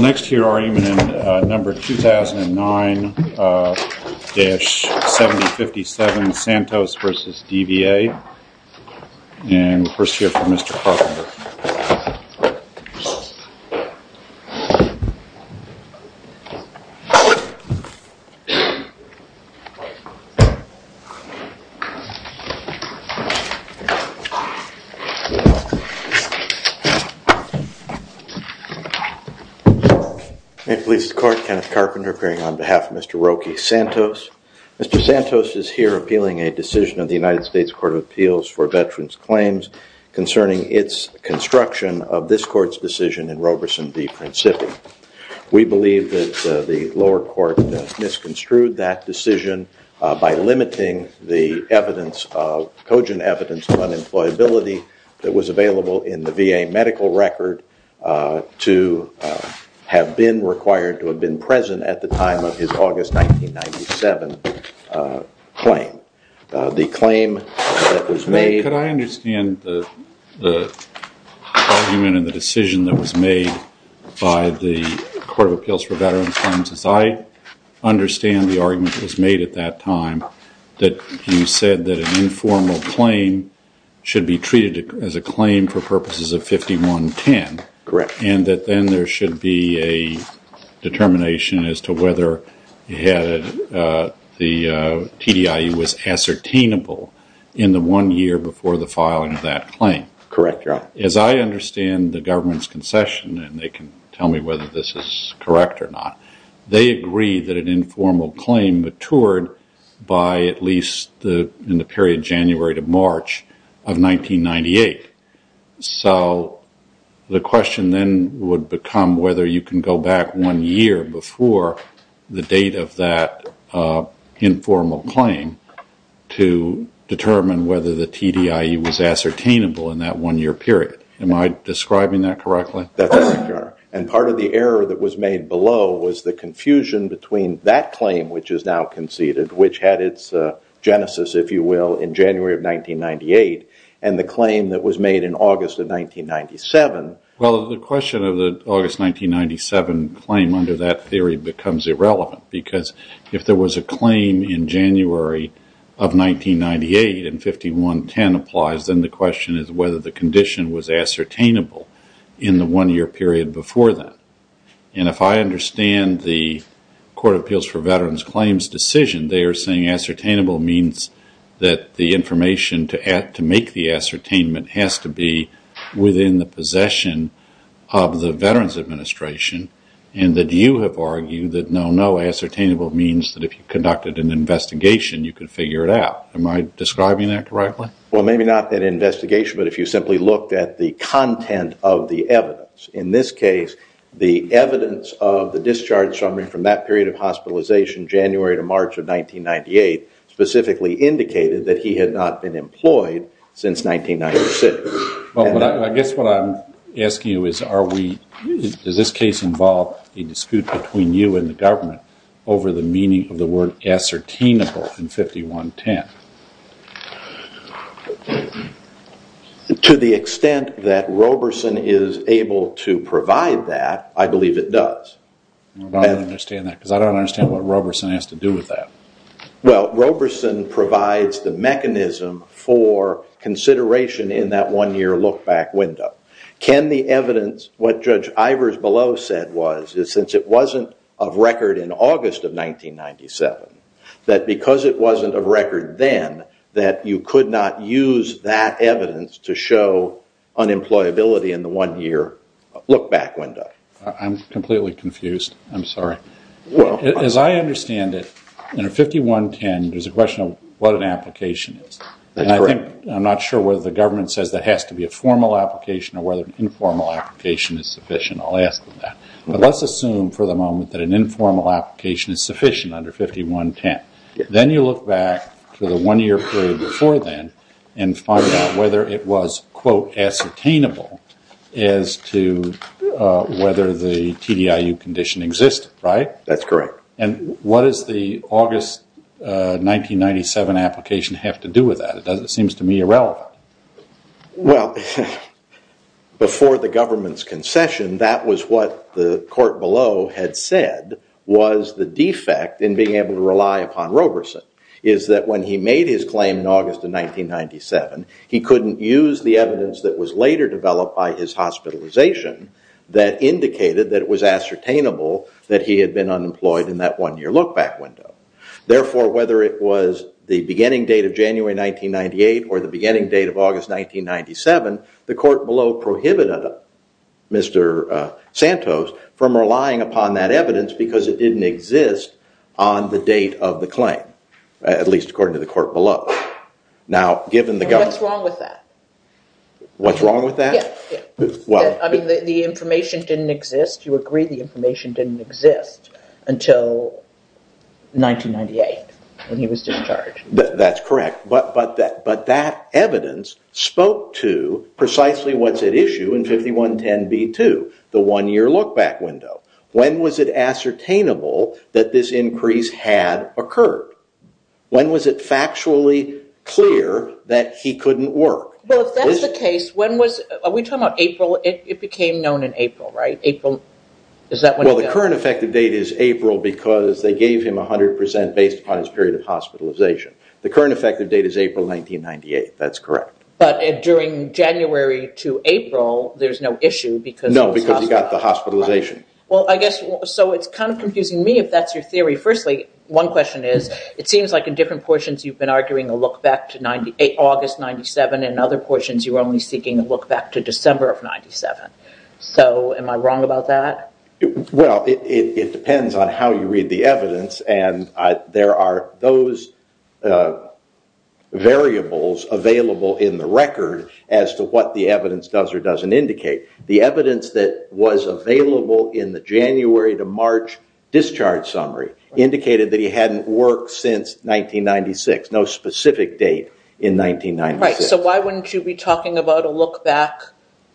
next year are you in number 2009-70 57 Santos vs. DVA and first year for Mr. Carpenter Mr. Santos is here appealing a decision of the United States Court of Appeals for its construction of this court's decision in Roberson v. Principi. We believe that the lower court misconstrued that decision by limiting the evidence of cogent evidence of unemployability that was available in the VA medical record to have been required to have been present at the time of his August 1997 claim. The claim that was made could I understand the argument and the decision that was made by the Court of Appeals for Veterans funds as I understand the argument was made at that time that you said that an informal claim should be treated as a claim for purposes of 51 10 correct and that then there should be a determination as to whether he had the TDIU was ascertainable in the one year before the filing of that claim correct as I understand the government's concession and they can tell me whether this is correct or not they agree that an informal claim matured by at least the in the period January to March of 1998 so the question then would become whether you can go back one year before the date of that informal claim. To determine whether the TDIU was ascertainable in that one year period. Am I describing that correctly? And part of the error that was made below was the confusion between that claim which is now conceded which had its genesis if you will in January of 1998 and the claim that was made in August of 1997. Well the question of the August 1997 claim under that theory becomes irrelevant because if there was a claim in January of 1998 and 51 10 applies then the question is whether the condition was ascertainable in the one year period before that. And if I understand the Court of Appeals for Veterans Claims decision they are saying ascertainable means that the information to add to make the ascertainment has to be within the possession of the Veterans Administration and that you have argued that no no ascertainable means that if you conducted an investigation you could figure it out am I describing that correctly? Well maybe not an investigation but if you simply looked at the content of the evidence in this case the evidence of the discharge summary from that period of hospitalization January to March of 1998 specifically indicated that he had not been employed since 1996. I guess what I'm asking you is does this case involve a dispute between you and the government over the meaning of the word ascertainable in 51 10? To the extent that Roberson is able to provide that I believe it does. I don't understand that because I don't understand what Roberson has to do with that. Well Roberson provides the mechanism for consideration in that one year look back window. Can the evidence what Judge Ivers below said was since it wasn't of record in August of 1997 that because it wasn't of record then that you could not use that evidence to show unemployability in the one year look back window. I'm completely confused. I'm sorry. As I understand it under 51 10 there's a question of what an application is. I'm not sure whether the government says that has to be a formal application or whether an informal application is sufficient I'll ask them that. But let's assume for the moment that an informal application is sufficient under 51 10 then you look back to the one year period before then and find out whether it was quote ascertainable as to whether the TDIU condition existed. That's correct. And what is the August 1997 application have to do with that? It seems to me irrelevant. Well before the government's concession that was what the court below had said was the defect in being able to rely upon Roberson is that when he made his claim in August of 1997 he couldn't use the evidence that was later developed by his hospitalization that indicated that it was ascertainable that he had been unemployed in that one year look back window. Therefore whether it was the beginning date of January 1998 or the beginning date of August 1997 the court below prohibited Mr. Santos from relying upon that evidence because it didn't exist on the date of the claim. At least according to the court below. Now given the government. What's wrong with that? What's wrong with that? Well I mean the information didn't exist. You agree the information didn't exist until 1998 when he was discharged. That's correct but that evidence spoke to precisely what's at issue in 51 10 B2 the one year look back window. When was it ascertainable that this increase had occurred? When was it factually clear that he couldn't work? Well if that's the case when was we talking about April it became known in April right? Well the current effective date is April because they gave him 100 percent based upon his period of hospitalization. The current effective date is April 1998 that's correct. But during January to April there's no issue because. No because he got the hospitalization. Well I guess so it's kind of confusing me if that's your theory. Firstly one question is it seems like in different portions you've been arguing a look back to 98 August 97 and other portions you're only seeking a look back to December of 97. So am I wrong about that? Well it depends on how you read the evidence and there are those variables available in the record as to what the evidence does or doesn't indicate. The evidence that was available in the January to March discharge summary indicated that he hadn't worked since 1996. No specific date in 1996. So why wouldn't you be talking about a look back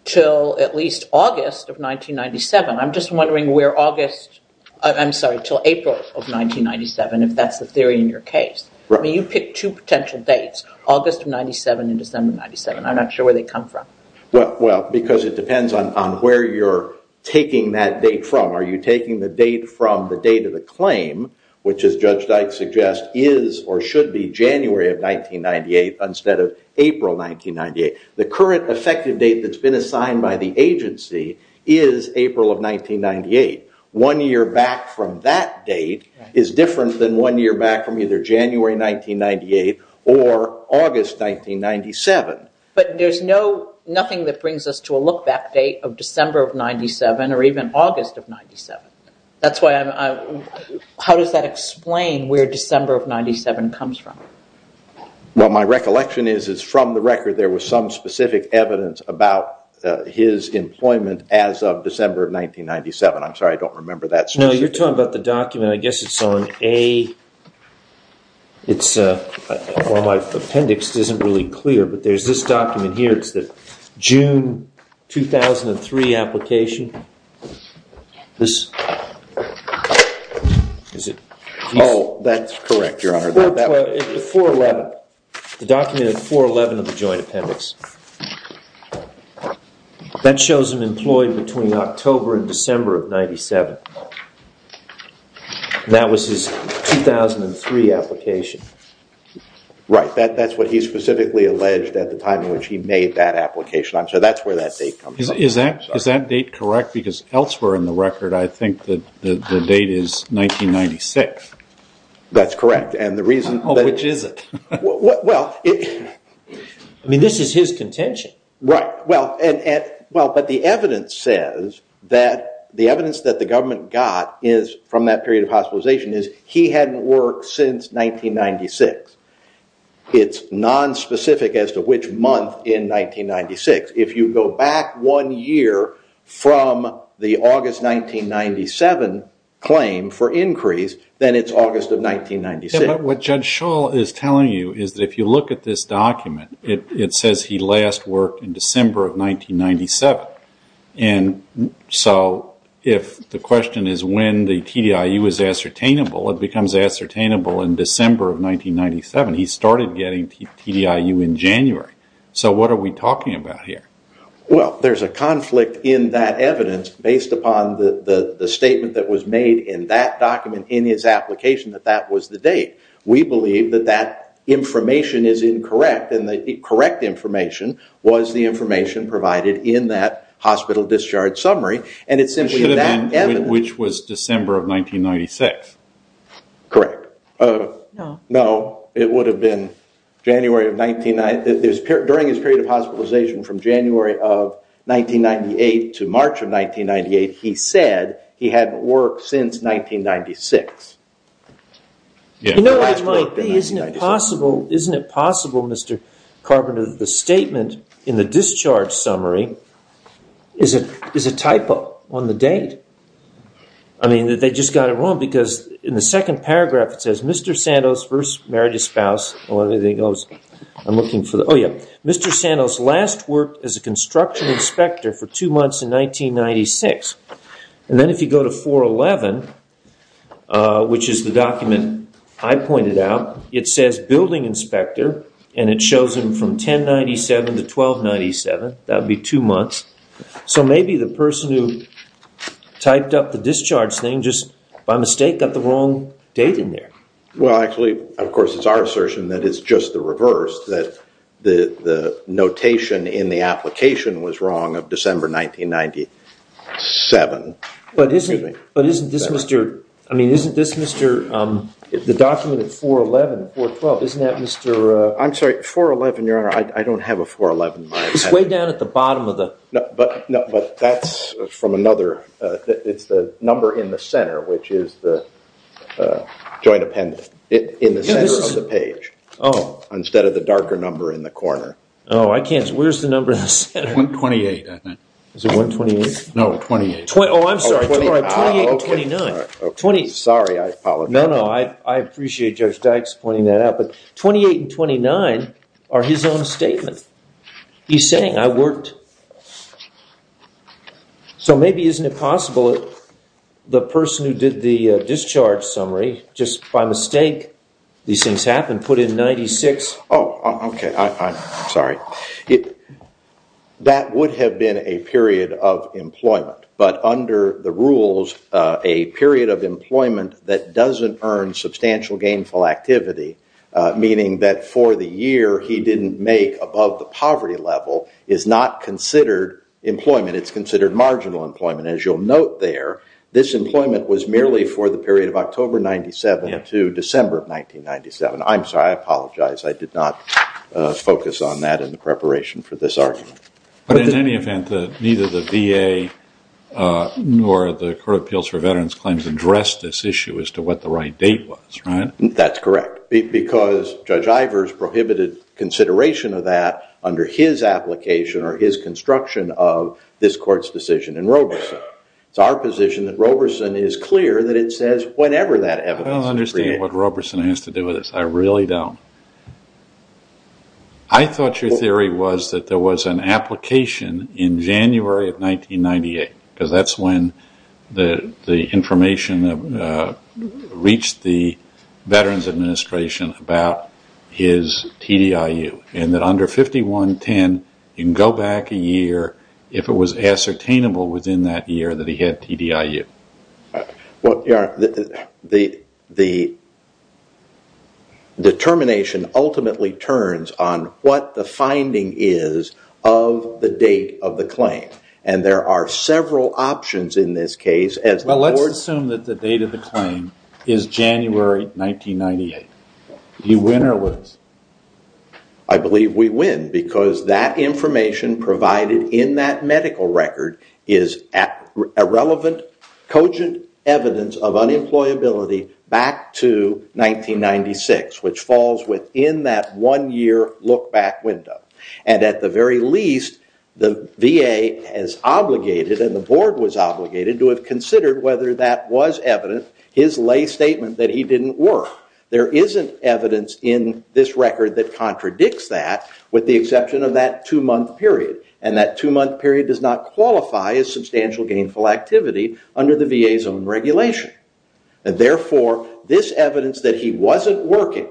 till at least August of 1997? I'm just wondering where August I'm sorry till April of 1997 if that's the theory in your case. You pick two potential dates August of 97 and December 97. I'm not sure where they come from. Well because it depends on where you're taking that date from. Are you taking the date from the date of the claim which as Judge Dyke suggests is or should be January of 1998 instead of April 1998. The current effective date that's been assigned by the agency is April of 1998. One year back from that date is different than one year back from either January 1998 or August 1997. But there's nothing that brings us to a look back date of December of 97 or even August of 97. How does that explain where December of 97 comes from? Well my recollection is from the record there was some specific evidence about his employment as of December of 1997. I'm sorry I don't remember that specific. No you're talking about the document I guess it's on A Well my appendix isn't really clear but there's this document here it's the June 2003 application. Oh that's correct your honor. The 411 the document of 411 of the joint appendix. That shows him employed between October and December of 97. And that was his 2003 application. Right that's what he specifically alleged at the time in which he made that application. So that's where that date comes from. Is that is that date correct because elsewhere in the record I think that the date is 1996. That's correct and the reason Oh which is it? I mean this is his contention. Right well and well but the evidence says that the evidence that the government got is from that period of hospitalization is he hadn't worked since 1996. It's non-specific as to which month in 1996. If you go back one year from the August 1997 claim for increase then it's August of 1996. What Judge Shull is telling you is that if you look at this document it says he last worked in December of 1997. And so if the question is when the TDIU is ascertainable it becomes ascertainable in December of 1997. He started getting TDIU in January. So what are we talking about here? Well there's a conflict in that evidence based upon the statement that was made in that document in his application that that was the date. We believe that that information is incorrect and the correct information was the information provided in that hospital discharge summary. And it's simply that which was December of 1996. Correct. No it would have been January of 1990. During his period of hospitalization from January of 1998 to March of 1998 he said he hadn't worked since 1996. You know what it might be, isn't it possible Mr. Carpenter that the statement in the discharge summary is a typo on the date? I mean that they just got it wrong because in the second paragraph it says Mr. Santos first married his spouse. Mr. Santos last worked as a construction inspector for two months in 1996. And then if you go to 411, which is the document I pointed out, it says building inspector and it shows him from 1097 to 1297. That would be two months. So maybe the person who typed up the discharge thing just by mistake got the wrong date in there. Well actually of course it's our assertion that it's just the reverse. That the notation in the application was wrong of December 1990. But isn't this Mr., I mean isn't this Mr., the document at 411, 412, isn't that Mr.? I'm sorry, 411 your honor, I don't have a 411. It's way down at the bottom of the. But that's from another, it's the number in the center which is the joint appendix, in the center of the page. Oh. Instead of the darker number in the corner. Oh I can't, where's the number in the center? 128 I think. Is it 128? No, 28. Oh I'm sorry, 28 and 29. Sorry, I apologize. No, no, I appreciate Judge Dykes pointing that out. But 28 and 29 are his own statement. He's saying I worked, so maybe isn't it possible that the person who did the discharge summary just by mistake these things happened, put in 96. Oh okay, I'm sorry. It, that would have been a period of employment, but under the rules a period of employment that doesn't earn substantial gainful activity, meaning that for the year he didn't make above the poverty level is not considered employment, it's considered marginal employment. As you'll note there, this employment was merely for the period of October 97 to December of 1997. I'm sorry, I apologize. I did not focus on that in the preparation for this argument. But in any event, neither the VA nor the Court of Appeals for Veterans Claims addressed this issue as to what the right date was, right? That's correct. Because Judge Ivers prohibited consideration of that under his application or his construction of this court's decision in Roberson. It's our position that Roberson is clear that it says whenever that evidence is created. I don't understand what Roberson has to do with this. I really don't. I thought your theory was that there was an application in January of 1998 because that's when the information reached the Veterans Administration about his TDIU and that under 5110 you can go back a year if it was ascertainable within that year that he had TDIU. Well, the determination ultimately turns on what the finding is of the date of the claim. And there are several options in this case. Well, let's assume that the date of the claim is January 1998. Do you win or lose? I believe we win because that information provided in that medical record is irrelevant cogent evidence of unemployability back to 1996, which falls within that one-year look back window. And at the very least, the VA has obligated and the board was obligated to have considered whether that was evident his lay statement that he didn't work. There isn't evidence in this record that contradicts that with the exception of that two-month period. And that two-month period does not qualify as substantial gainful activity under the VA's own regulation. And therefore, this evidence that he wasn't working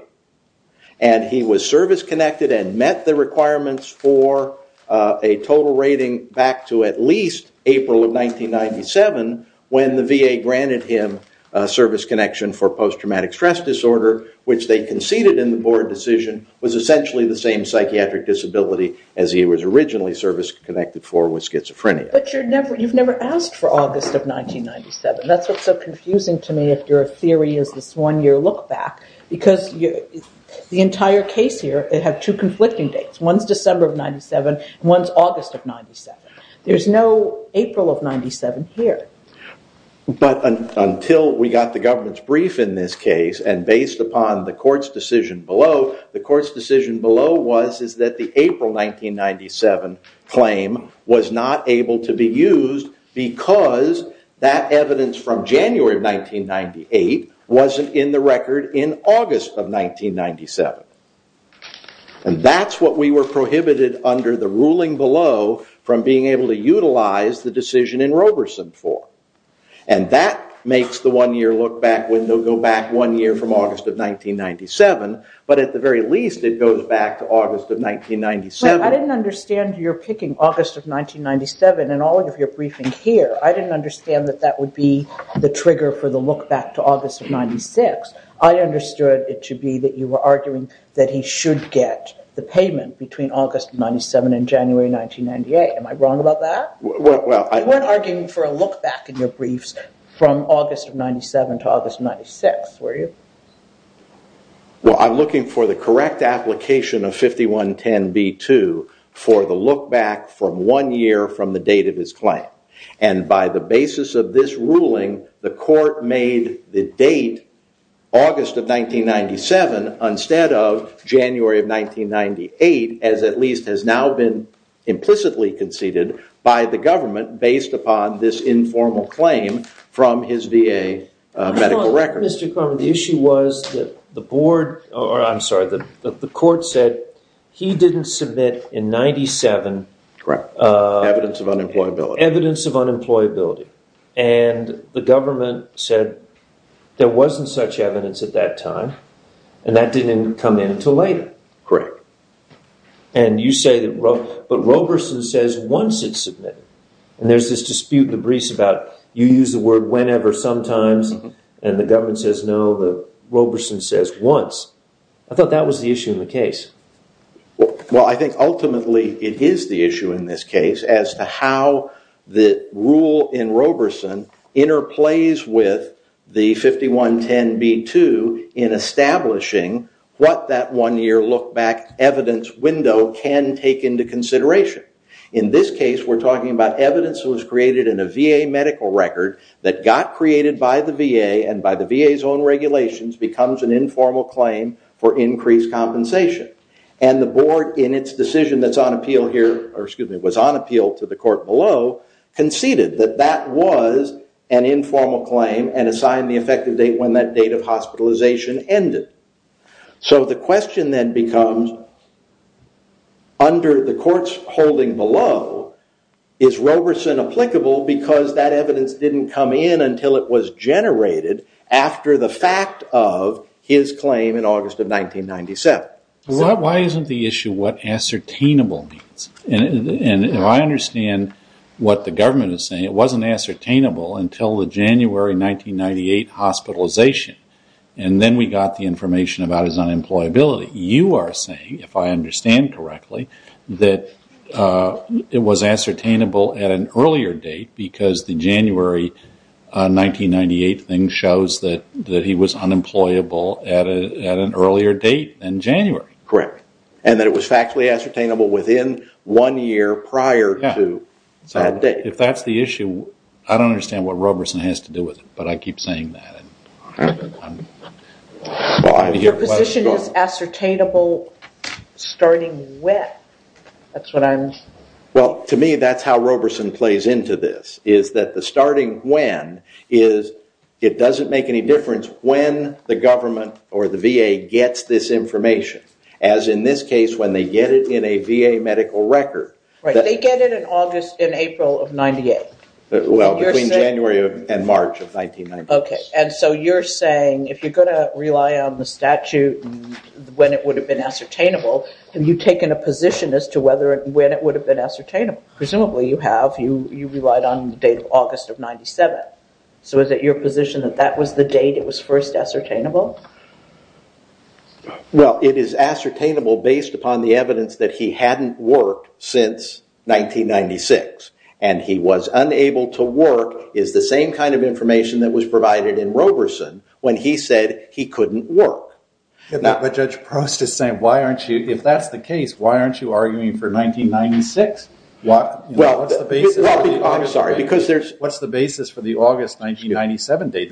and he was service-connected and met the requirements for a total rating back to at least April of 1997 when the VA granted him service connection for post-traumatic stress disorder, which they conceded in the was essentially the same psychiatric disability as he was originally service-connected for with schizophrenia. But you've never asked for August of 1997. That's what's so confusing to me if your theory is this one-year look back. Because the entire case here, it had two conflicting dates. One's December of 97 and one's August of 97. There's no April of 97 here. But until we got the government's brief in this case and based upon the court's decision below, the court's decision below was is that the April 1997 claim was not able to be used because that evidence from January of 1998 wasn't in the record in August of 1997. And that's what we were prohibited under the ruling below from being able to utilize the decision in Roberson for. And that makes the one-year look back window go back one year from August of 1997. But at the very least, it goes back to August of 1997. I didn't understand your picking August of 1997 in all of your briefing here. I didn't understand that that would be the trigger for the look back to August of 96. I understood it to be that you were arguing that he should get the payment between August of 97 and January 1998. Am I wrong about that? You weren't arguing for a look back in your briefs from August of 97 to August of 96, were you? Well, I'm looking for the correct application of 5110b2 for the look back from one year from the date of his claim. And by the basis of this ruling, the court made the date August of 1997 instead of January of 1998, as at least has now been implicitly conceded by the government based upon this informal claim from his VA medical record. Mr. Korman, the issue was that the board, or I'm sorry, the court said he didn't submit in 97. Correct. Evidence of unemployability. Evidence of unemployability. And the government said there wasn't such evidence at that time. And that didn't come in until later. Correct. And you say that, but Roberson says once it's submitted. And there's this dispute in the briefs about you use the word whenever, sometimes, and the government says no, but Roberson says once. I thought that was the issue in the case. Well, I think ultimately it is the issue in this case as to how the rule in Roberson interplays with the 5110B2 in establishing what that one year look back evidence window can take into consideration. In this case, we're talking about evidence that was created in a VA medical record that got created by the VA and by the VA's own regulations becomes an informal claim for increased compensation. And the board, in its decision that's on appeal here, or excuse me, was on appeal to the court below, conceded that that was an informal claim and assigned the effective date when that date of hospitalization ended. So the question then becomes, under the court's holding below, is Roberson applicable because that evidence didn't come in until it was generated after the fact of his claim in August of 1997? Why isn't the issue what ascertainable means? And if I understand what the government is saying, it wasn't ascertainable until the January 1998 hospitalization. And then we got the information about his unemployability. You are saying, if I understand correctly, that it was ascertainable at an earlier date because the January 1998 thing shows that he was unemployable at an earlier date than January. Correct. And that it was factually ascertainable within one year prior to that date. If that's the issue, I don't understand what Roberson has to do with it, but I keep saying that. Your position is ascertainable starting when? Well, to me, that's how Roberson plays into this, is that the starting when is it doesn't make any difference when the government or the VA gets this information. As in this case, when they get it in a VA medical record. They get it in August and April of 98. Well, between January and March of 1998. OK. And so you're saying, if you're going to rely on the statute when it would have been ascertainable, have you taken a position as to when it would have been ascertainable? Presumably you have. You relied on the date of August of 97. So is it your position that that was the date it was first ascertainable? Well, it is ascertainable based upon the evidence that he hadn't worked since 1996. And he was unable to work is the same kind of information that was provided in Roberson when he said he couldn't work. But Judge Prost is saying, if that's the case, why aren't you arguing for 1996? What's the basis for the August 1997 date?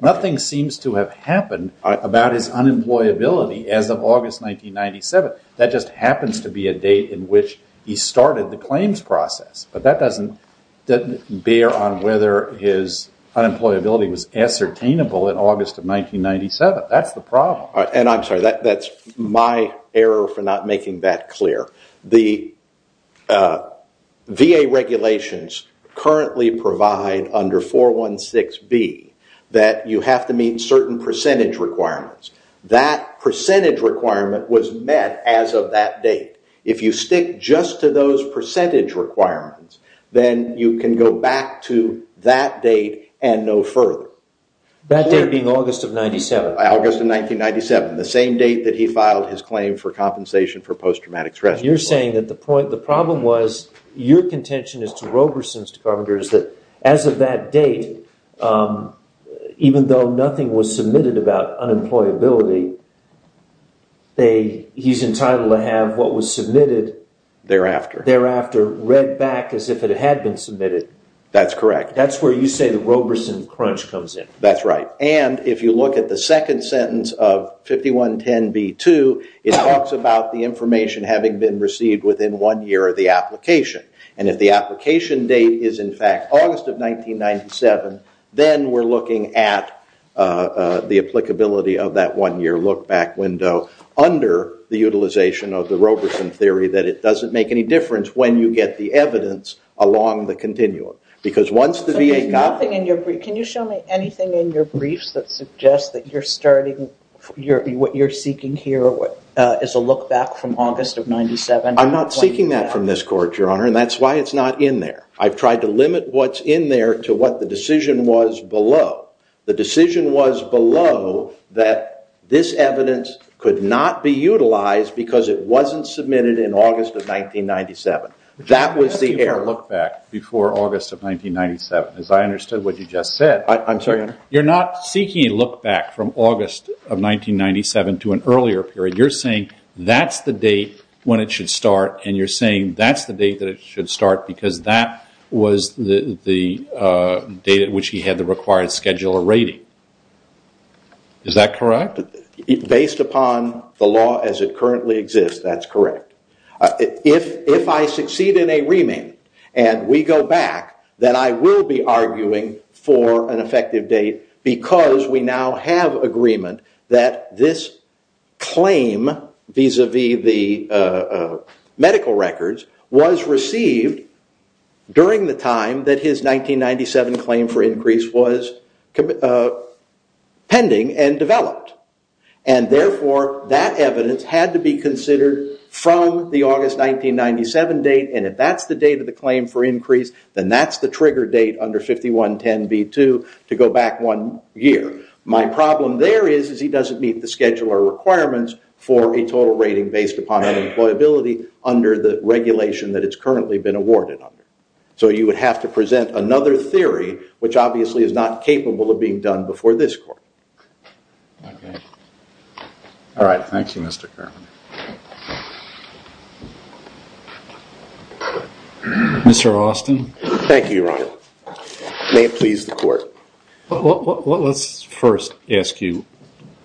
Nothing seems to have happened about his unemployability as of August 1997. That just happens to be a date in which he started the claims process. But that doesn't bear on whether his unemployability was ascertainable in August of 1997. That's the problem. And I'm sorry, that's my error for not making that clear. The VA regulations currently provide under 416B that you have to meet certain percentage requirements. That percentage requirement was met as of that date. If you stick just to those percentage requirements, then you can go back to that date and no further. That date being August of 97? August of 1997, the same date that he filed his claim for compensation for post-traumatic stress. You're saying that the problem was, your contention is to Roberson, to Carpenter, is that as of that date, even though nothing was submitted about unemployability, he's entitled to have what was submitted thereafter read back as if it had been submitted. That's correct. That's where you say the Roberson crunch comes in. That's right. And if you look at the second sentence of 5110B2, it talks about the information having been received within one year of the application. And if the application date is, in fact, August of 1997, then we're looking at the applicability of that one year look back window under the utilization of the Roberson theory that it doesn't make any difference when you get the evidence along the continuum. Because once the VA got it- Can you show me anything in your briefs that suggests that what you're seeking here is a look back from August of 97? I'm not seeking that from this court, Your Honor, and that's why it's not in there. I've tried to limit what's in there to what the decision was below. The decision was below that this evidence could not be utilized because it wasn't submitted in August of 1997. That was the error. Look back before August of 1997. As I understood what you just said- I'm sorry, Your Honor? You're not seeking a look back from August of 1997 to an earlier period. You're saying that's the date when it should start and you're saying that's the date that it should start because that was the date at which he had the required scheduler rating. Is that correct? Based upon the law as it currently exists, that's correct. If I succeed in a remand and we go back, then I will be arguing for an effective date because we now have agreement that this claim vis-a-vis the medical records was received during the time that his 1997 claim for increase was pending and developed. Therefore, that evidence had to be considered from the August 1997 date. If that's the date of the claim for increase, then that's the trigger date under 5110b2 to go back one year. My problem there is he doesn't meet the scheduler requirements for a total rating based upon unemployability under the regulation that it's currently been awarded under. You would have to present another theory, which obviously is not capable of being done before this court. All right. Thank you, Mr. Kerman. Mr. Austin? Thank you, Ronald. May it please the court. Let's first ask you,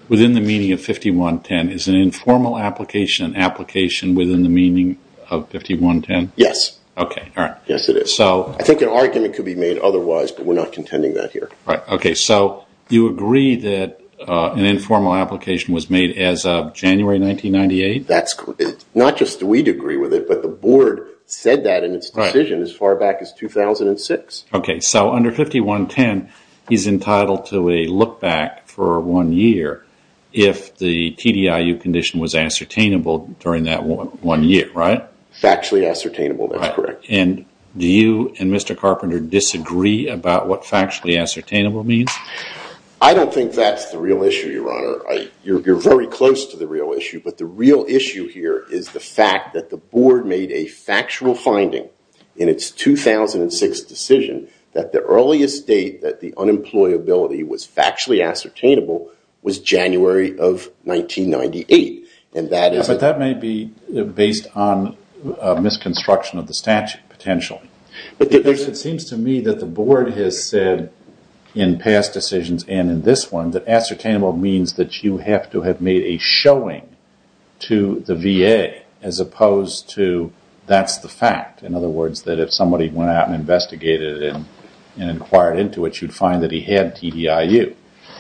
within the meaning of 5110, is an informal application an application within the meaning of 5110? Yes. Okay, all right. Yes, it is. I think an argument could be made otherwise, but we're not contending that here. Okay, so you agree that an informal application was made as of January 1998? That's correct. Not just do we agree with it, but the board said that in its decision as far back as 2006. Okay, so under 5110, he's entitled to a look-back for one year if the TDIU condition was ascertainable during that one year, right? Factually ascertainable, that's correct. Do you and Mr. Carpenter disagree about what factually ascertainable means? I don't think that's the real issue, Your Honor. You're very close to the real issue, but the real issue here is the fact that the board made a factual finding in its 2006 decision that the earliest date that the unemployability was factually ascertainable was January of 1998. That may be based on a misconstruction of the statute potentially. It seems to me that the board has said in past decisions and in this one that ascertainable means that you have to have made a showing to the VA as opposed to that's the fact. In other words, that if somebody went out and investigated it and inquired into it, you'd find that he had TDIU.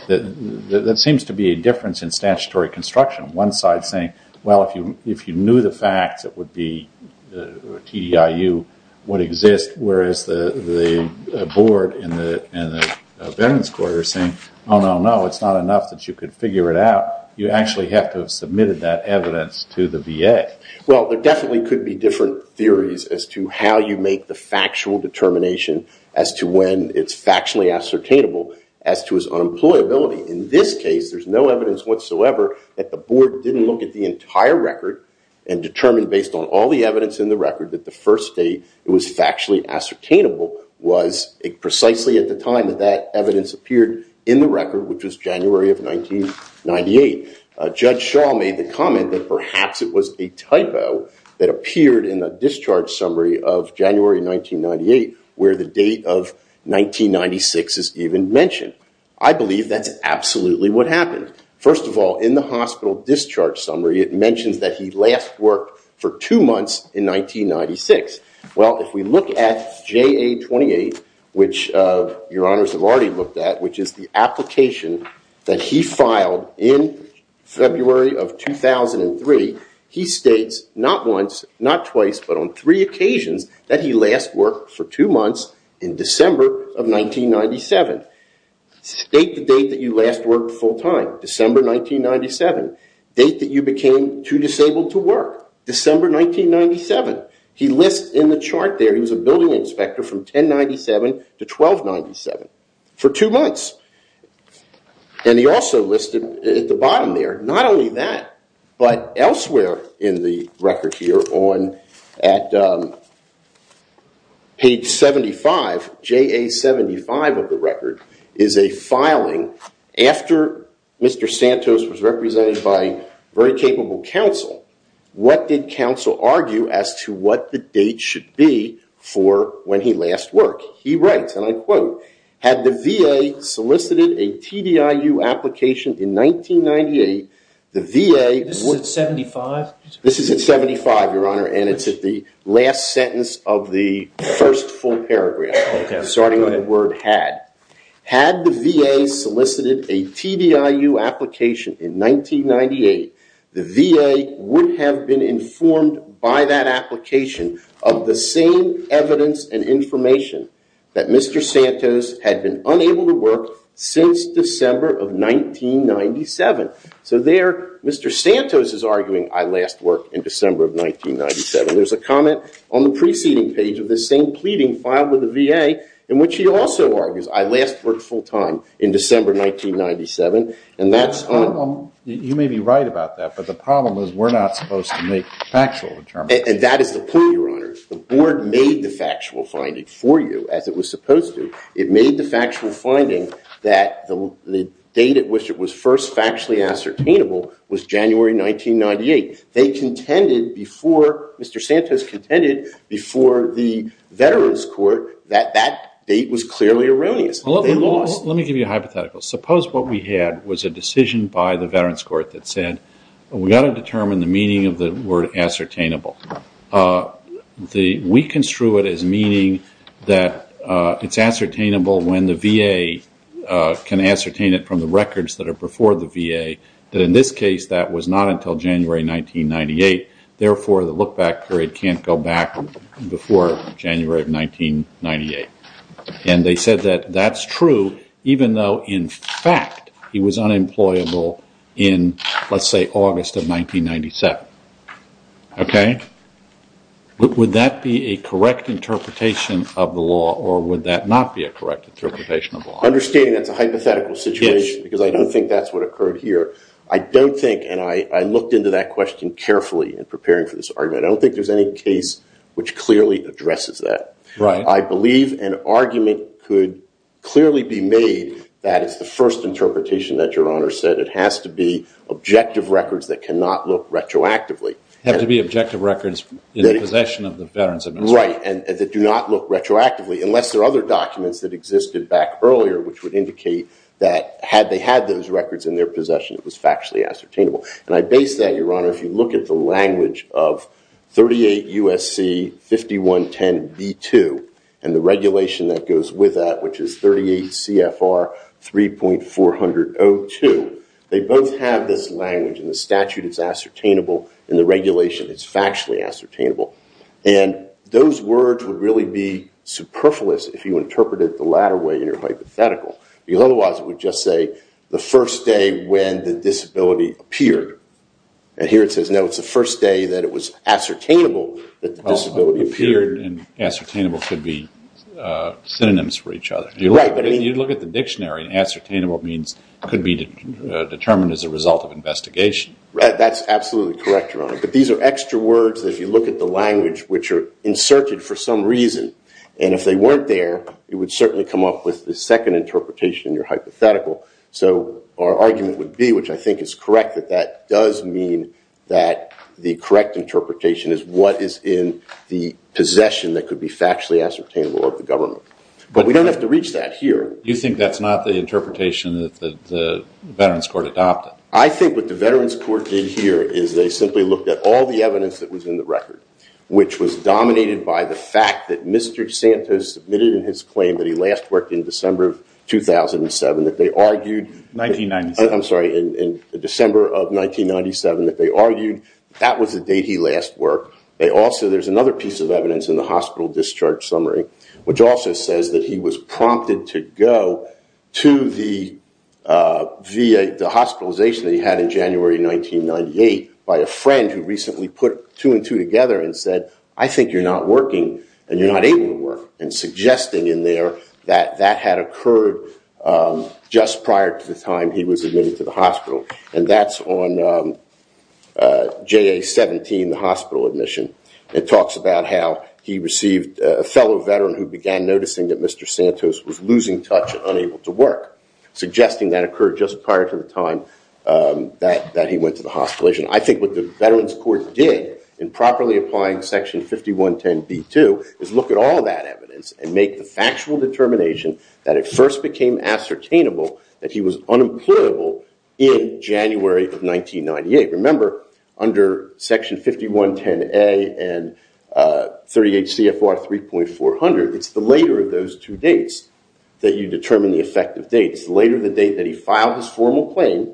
That seems to be a difference in statutory construction. One side saying, well, if you knew the facts, it would be TDIU would exist. Whereas the board and the Veterans Court are saying, oh, no, no. It's not enough that you could figure it out. You actually have to have submitted that evidence to the VA. Well, there definitely could be different theories as to how you make the factual determination as to when it's factually ascertainable as to its unemployability. In this case, there's no evidence whatsoever that the board didn't look at the entire record and determine based on all the evidence in the record that the first date it was factually ascertainable was precisely at the time that that evidence appeared in the record, which was January of 1998. Judge Shaw made the comment that perhaps it was a typo that appeared in the discharge summary of January 1998, where the date of 1996 is even mentioned. I believe that's absolutely what happened. First of all, in the hospital discharge summary, it mentions that he last worked for two months in 1996. Well, if we look at JA-28, which your honors have already looked at, which is the application that he filed in February of 2003, he states not once, not twice, but on three occasions that he last worked for two months in December of 1997. State the date that you last worked full time, December 1997. Date that you became too disabled to work, December 1997. He lists in the chart there he was a building inspector from 1097 to 1297 for two months. And he also listed at the bottom there, not only that, but elsewhere in the record here on at page 75, JA-75 of the record, is a filing after Mr. Santos was represented by very capable counsel. What did counsel argue as to what the date should be for when he last worked? He writes, and I quote, had the VA solicited a TDIU application in 1998, the VA- This is at 75? This is at 75, your honor, and it's at the last sentence of the first full paragraph, starting on the word had. Had the VA solicited a TDIU application in 1998, the VA would have been informed by that that Mr. Santos had been unable to work since December of 1997. So there, Mr. Santos is arguing, I last worked in December of 1997. There's a comment on the preceding page of the same pleading filed with the VA, in which he also argues, I last worked full time in December 1997. And that's on- You may be right about that, but the problem is we're not supposed to make factual determinants. And that is the point, your honor. The board made the factual finding for you, as it was supposed to. It made the factual finding that the date at which it was first factually ascertainable was January 1998. They contended before- Mr. Santos contended before the Veterans Court that that date was clearly erroneous. Let me give you a hypothetical. Suppose what we had was a decision by the Veterans Court that said, we've got to determine the meaning of the word ascertainable. We construe it as meaning that it's ascertainable when the VA can ascertain it from the records that are before the VA, that in this case, that was not until January 1998. Therefore, the look back period can't go back before January of 1998. And they said that that's true, even though, in fact, he was unemployable in, let's say, August of 1997. OK? Would that be a correct interpretation of the law, or would that not be a correct interpretation of the law? Understanding that's a hypothetical situation, because I don't think that's what occurred here. I don't think, and I looked into that question carefully in preparing for this argument, I don't think there's any case which clearly addresses that. Right. I believe an argument could clearly be made that it's the first interpretation that your Have to be objective records in the possession of the Veterans Administration. Right. And that do not look retroactively, unless there are other documents that existed back earlier, which would indicate that had they had those records in their possession, it was factually ascertainable. And I base that, Your Honor, if you look at the language of 38 U.S.C. 5110b2, and the regulation that goes with that, which is 38 C.F.R. 3.402, they both have this language, and the statute is ascertainable, and the regulation is factually ascertainable. And those words would really be superfluous if you interpreted it the latter way in your hypothetical. Because otherwise it would just say, the first day when the disability appeared. And here it says, no, it's the first day that it was ascertainable that the disability appeared. And ascertainable could be synonyms for each other. You're right. You look at the dictionary, and ascertainable could be determined as a result of investigation. That's absolutely correct, Your Honor. But these are extra words that if you look at the language, which are inserted for some reason. And if they weren't there, it would certainly come up with the second interpretation in your hypothetical. So our argument would be, which I think is correct, that that does mean that the correct interpretation is what is in the possession that could be factually ascertainable of the government. But we don't have to reach that here. You think that's not the interpretation that the Veterans Court adopted? I think what the Veterans Court did here is they simply looked at all the evidence that was in the record, which was dominated by the fact that Mr. Santos submitted in his claim that he last worked in December of 2007, that they argued. 1997. I'm sorry, in December of 1997, that they argued that was the date he last worked. They also, there's another piece of evidence in the hospital discharge summary, which also says that he was prompted to go to the hospitalization that he had in January 1998 by a friend who recently put two and two together and said, I think you're not working, and you're not able to work. And suggesting in there that that had occurred just prior to the time he was admitted to the hospital. And that's on JA-17, the hospital admission. It talks about how he received a fellow veteran who began noticing that Mr. Santos was losing touch and unable to work. Suggesting that occurred just prior to the time that he went to the hospitalization. I think what the Veterans Court did in properly applying Section 5110b-2 is look at all that evidence and make the factual determination that it first became ascertainable that he was unemployable in January of 1998. Remember, under Section 5110a and 38 CFR 3.400, it's the later of those two dates that you determine the effective date. It's later the date that he filed his formal claim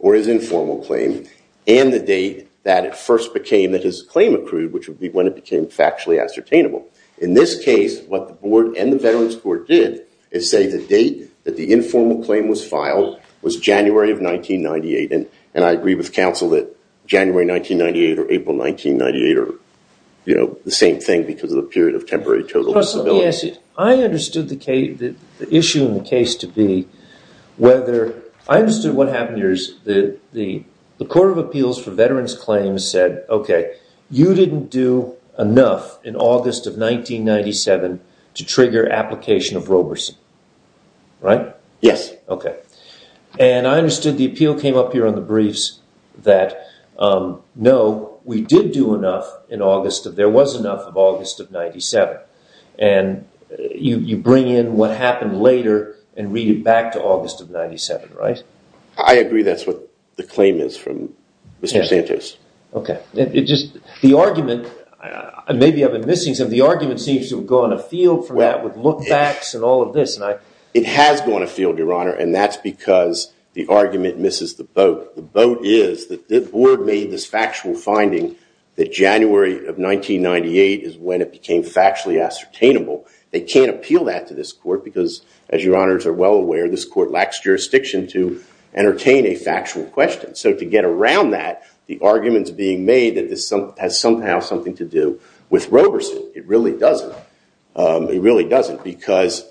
or his informal claim and the date that it first became that his claim accrued, which would be when it became factually ascertainable. In this case, what the board and the Veterans Court did is say the date that the informal claim was filed was January of 1998. And I agree with counsel that January 1998 or April 1998 are the same thing because of the period of temporary total disability. I understood the issue in the case to be whether... I understood what happened here is the Court of Appeals for Veterans Claims said, OK, you didn't do enough in August of 1997 to trigger application of Roberson, right? Yes. OK. And I understood the appeal came up here on the briefs that, no, we did do enough in August. There was enough of August of 1997. And you bring in what happened later and read it back to August of 1997, right? I agree that's what the claim is from Mr. Santos. OK. The argument... Maybe I've been missing something. The argument seems to go on a field for that with lookbacks and all of this. It has gone afield, Your Honor, and that's because the argument misses the boat. The boat is that the board made this factual finding that January of 1998 is when it became factually ascertainable. They can't appeal that to this court because, as Your Honors are well aware, this court lacks jurisdiction to entertain a factual question. So to get around that, the argument is being made that this has somehow something to do with Roberson. It really doesn't. It really doesn't because...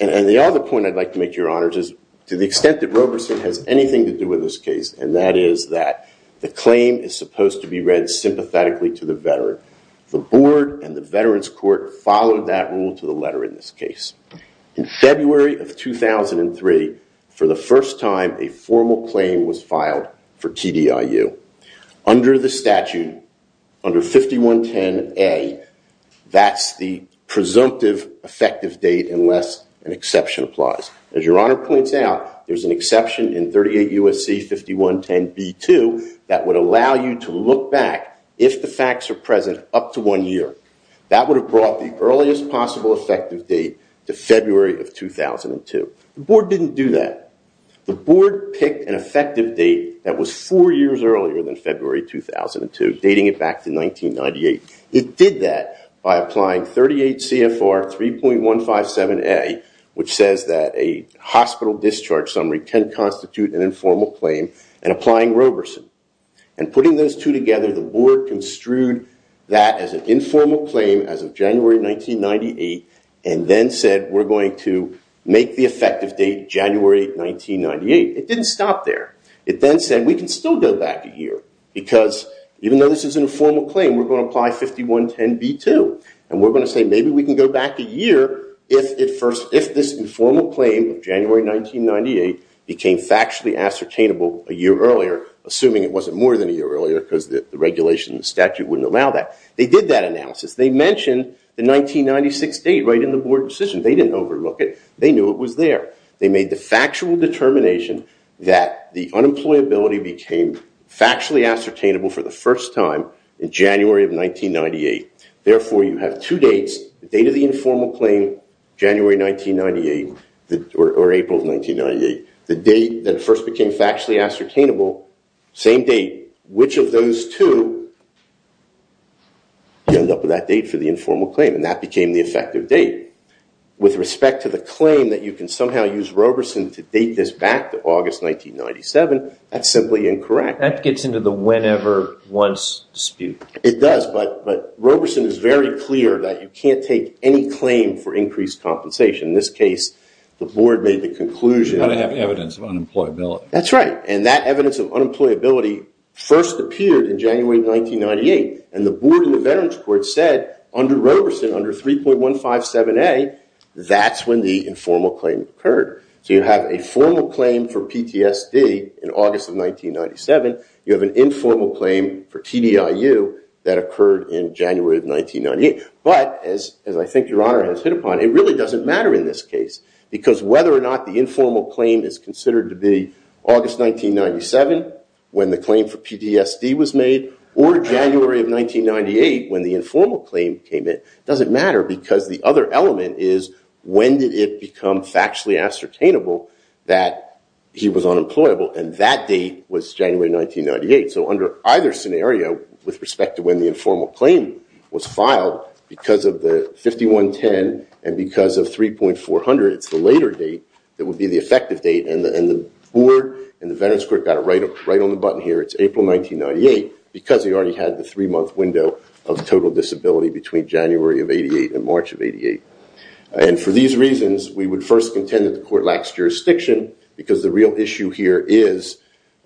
And the other point I'd like to make, Your Honors, is to the extent that Roberson has anything to do with this case, and that is that the claim is supposed to be read sympathetically to the veteran. The board and the veterans court followed that rule to the letter in this case. In February of 2003, for the first time, a formal claim was filed for TDIU. Under the statute, under 5110A, that's the presumptive effective date unless an exception applies. As Your Honor points out, there's an exception in 38 U.S.C. 5110B2 that would allow you to look back, if the facts are present, up to one year. That would have brought the earliest possible effective date to February of 2002. The board didn't do that. The board picked an effective date that was four years earlier than February 2002, dating it back to 1998. It did that by applying 38 CFR 3.157A, which says that a hospital discharge summary can constitute an informal claim, and applying Roberson. And putting those two together, the board construed that as an informal claim as of 1998. It didn't stop there. It then said, we can still go back a year, because even though this is an informal claim, we're going to apply 5110B2. And we're going to say, maybe we can go back a year if this informal claim of January 1998 became factually ascertainable a year earlier, assuming it wasn't more than a year earlier, because the regulation and the statute wouldn't allow that. They did that analysis. They mentioned the 1996 date right in the board decision. They didn't overlook it. They knew it was there. They made the factual determination that the unemployability became factually ascertainable for the first time in January of 1998. Therefore, you have two dates, the date of the informal claim, January 1998, or April of 1998. The date that first became factually ascertainable, same date. Which of those two, you end up with that date for the informal claim. And that became the effective date. With respect to the claim that you can somehow use Roberson to date this back to August 1997, that's simply incorrect. That gets into the whenever, once dispute. It does. But Roberson is very clear that you can't take any claim for increased compensation. In this case, the board made the conclusion. You've got to have evidence of unemployability. That's right. And that evidence of unemployability first appeared in January 1998. And the board of the Veterans Court said, under Roberson, under 3.157a, that's when the informal claim occurred. So you have a formal claim for PTSD in August of 1997. You have an informal claim for TDIU that occurred in January of 1998. But as I think your honor has hit upon, it really doesn't matter in this case. Because whether or not the informal claim is considered to be August 1997, when the 1998, when the informal claim came in, doesn't matter. Because the other element is, when did it become factually ascertainable that he was unemployable? And that date was January 1998. So under either scenario, with respect to when the informal claim was filed, because of the 5110 and because of 3.400, it's the later date that would be the effective date. And the board and the Veterans Court got it right on the button here. It's April 1998, because he already had the three-month window of total disability between January of 88 and March of 88. And for these reasons, we would first contend that the court lacks jurisdiction. Because the real issue here is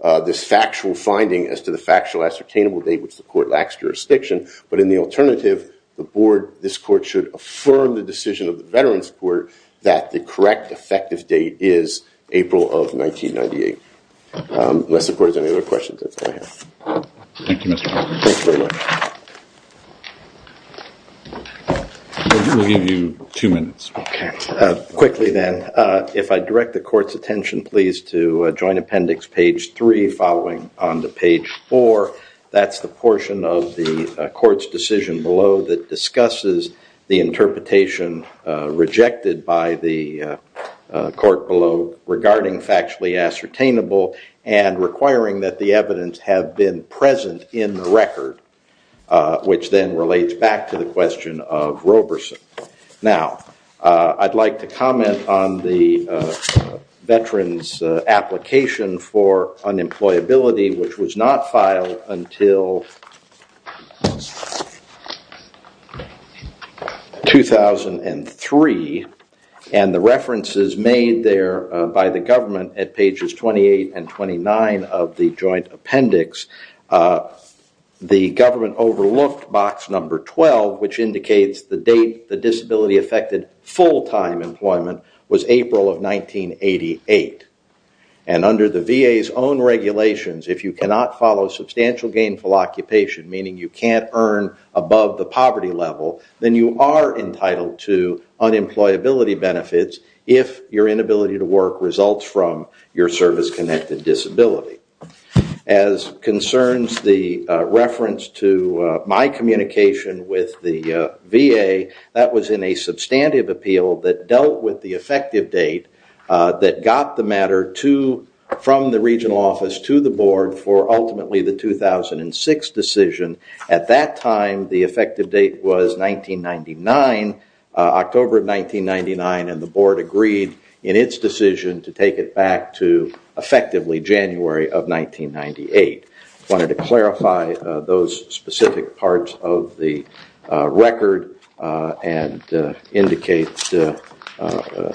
this factual finding as to the factual ascertainable date, which the court lacks jurisdiction. But in the alternative, the board, this court, should affirm the decision of the Veterans Court that the correct effective date is April of 1998. Unless the board has any other questions, that's all I have. Thank you, Mr. Harkin. Thanks very much. We'll give you two minutes. OK. Quickly, then, if I direct the court's attention, please, to Joint Appendix, page three, following on to page four. That's the portion of the court's decision below that discusses the interpretation rejected by the court below regarding factually ascertainable and requiring that the evidence have been present in the record, which then relates back to the question of Roberson. Now, I'd like to comment on the veteran's application for unemployability, which was not filed until 2003. And the references made there by the government at pages 28 and 29 of the Joint Appendix, the government overlooked box number 12, which indicates the date the disability affected full-time employment was April of 1988. And under the VA's own regulations, if you cannot follow substantial gainful occupation, meaning you can't earn above the poverty level, then you are entitled to unemployability benefits if your inability to work results from your service-connected disability. As concerns the reference to my communication with the VA, that was in a substantive appeal that dealt with the effective date that got the matter from the regional office to the board for ultimately the 2006 decision. At that time, the effective date was 1999, October of 1999, and the board agreed in its decision to take it back to effectively January of 1998. I wanted to clarify those specific parts of the record and indicate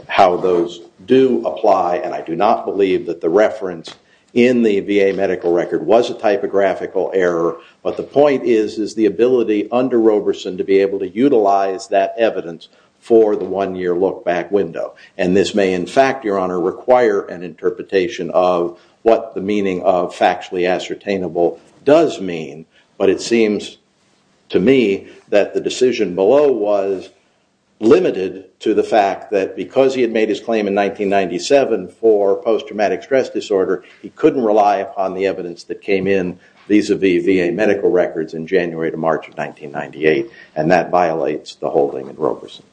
how those do apply. And I do not believe that the reference in the VA medical record was a typographical error. But the point is the ability under Roberson to be able to utilize that evidence for the one-year look-back window. And this may, in fact, Your Honor, require an interpretation of what the meaning of does mean. But it seems to me that the decision below was limited to the fact that because he had made his claim in 1997 for post-traumatic stress disorder, he couldn't rely upon the evidence that came in vis-a-vis VA medical records in January to March of 1998. And that violates the whole thing in Roberson.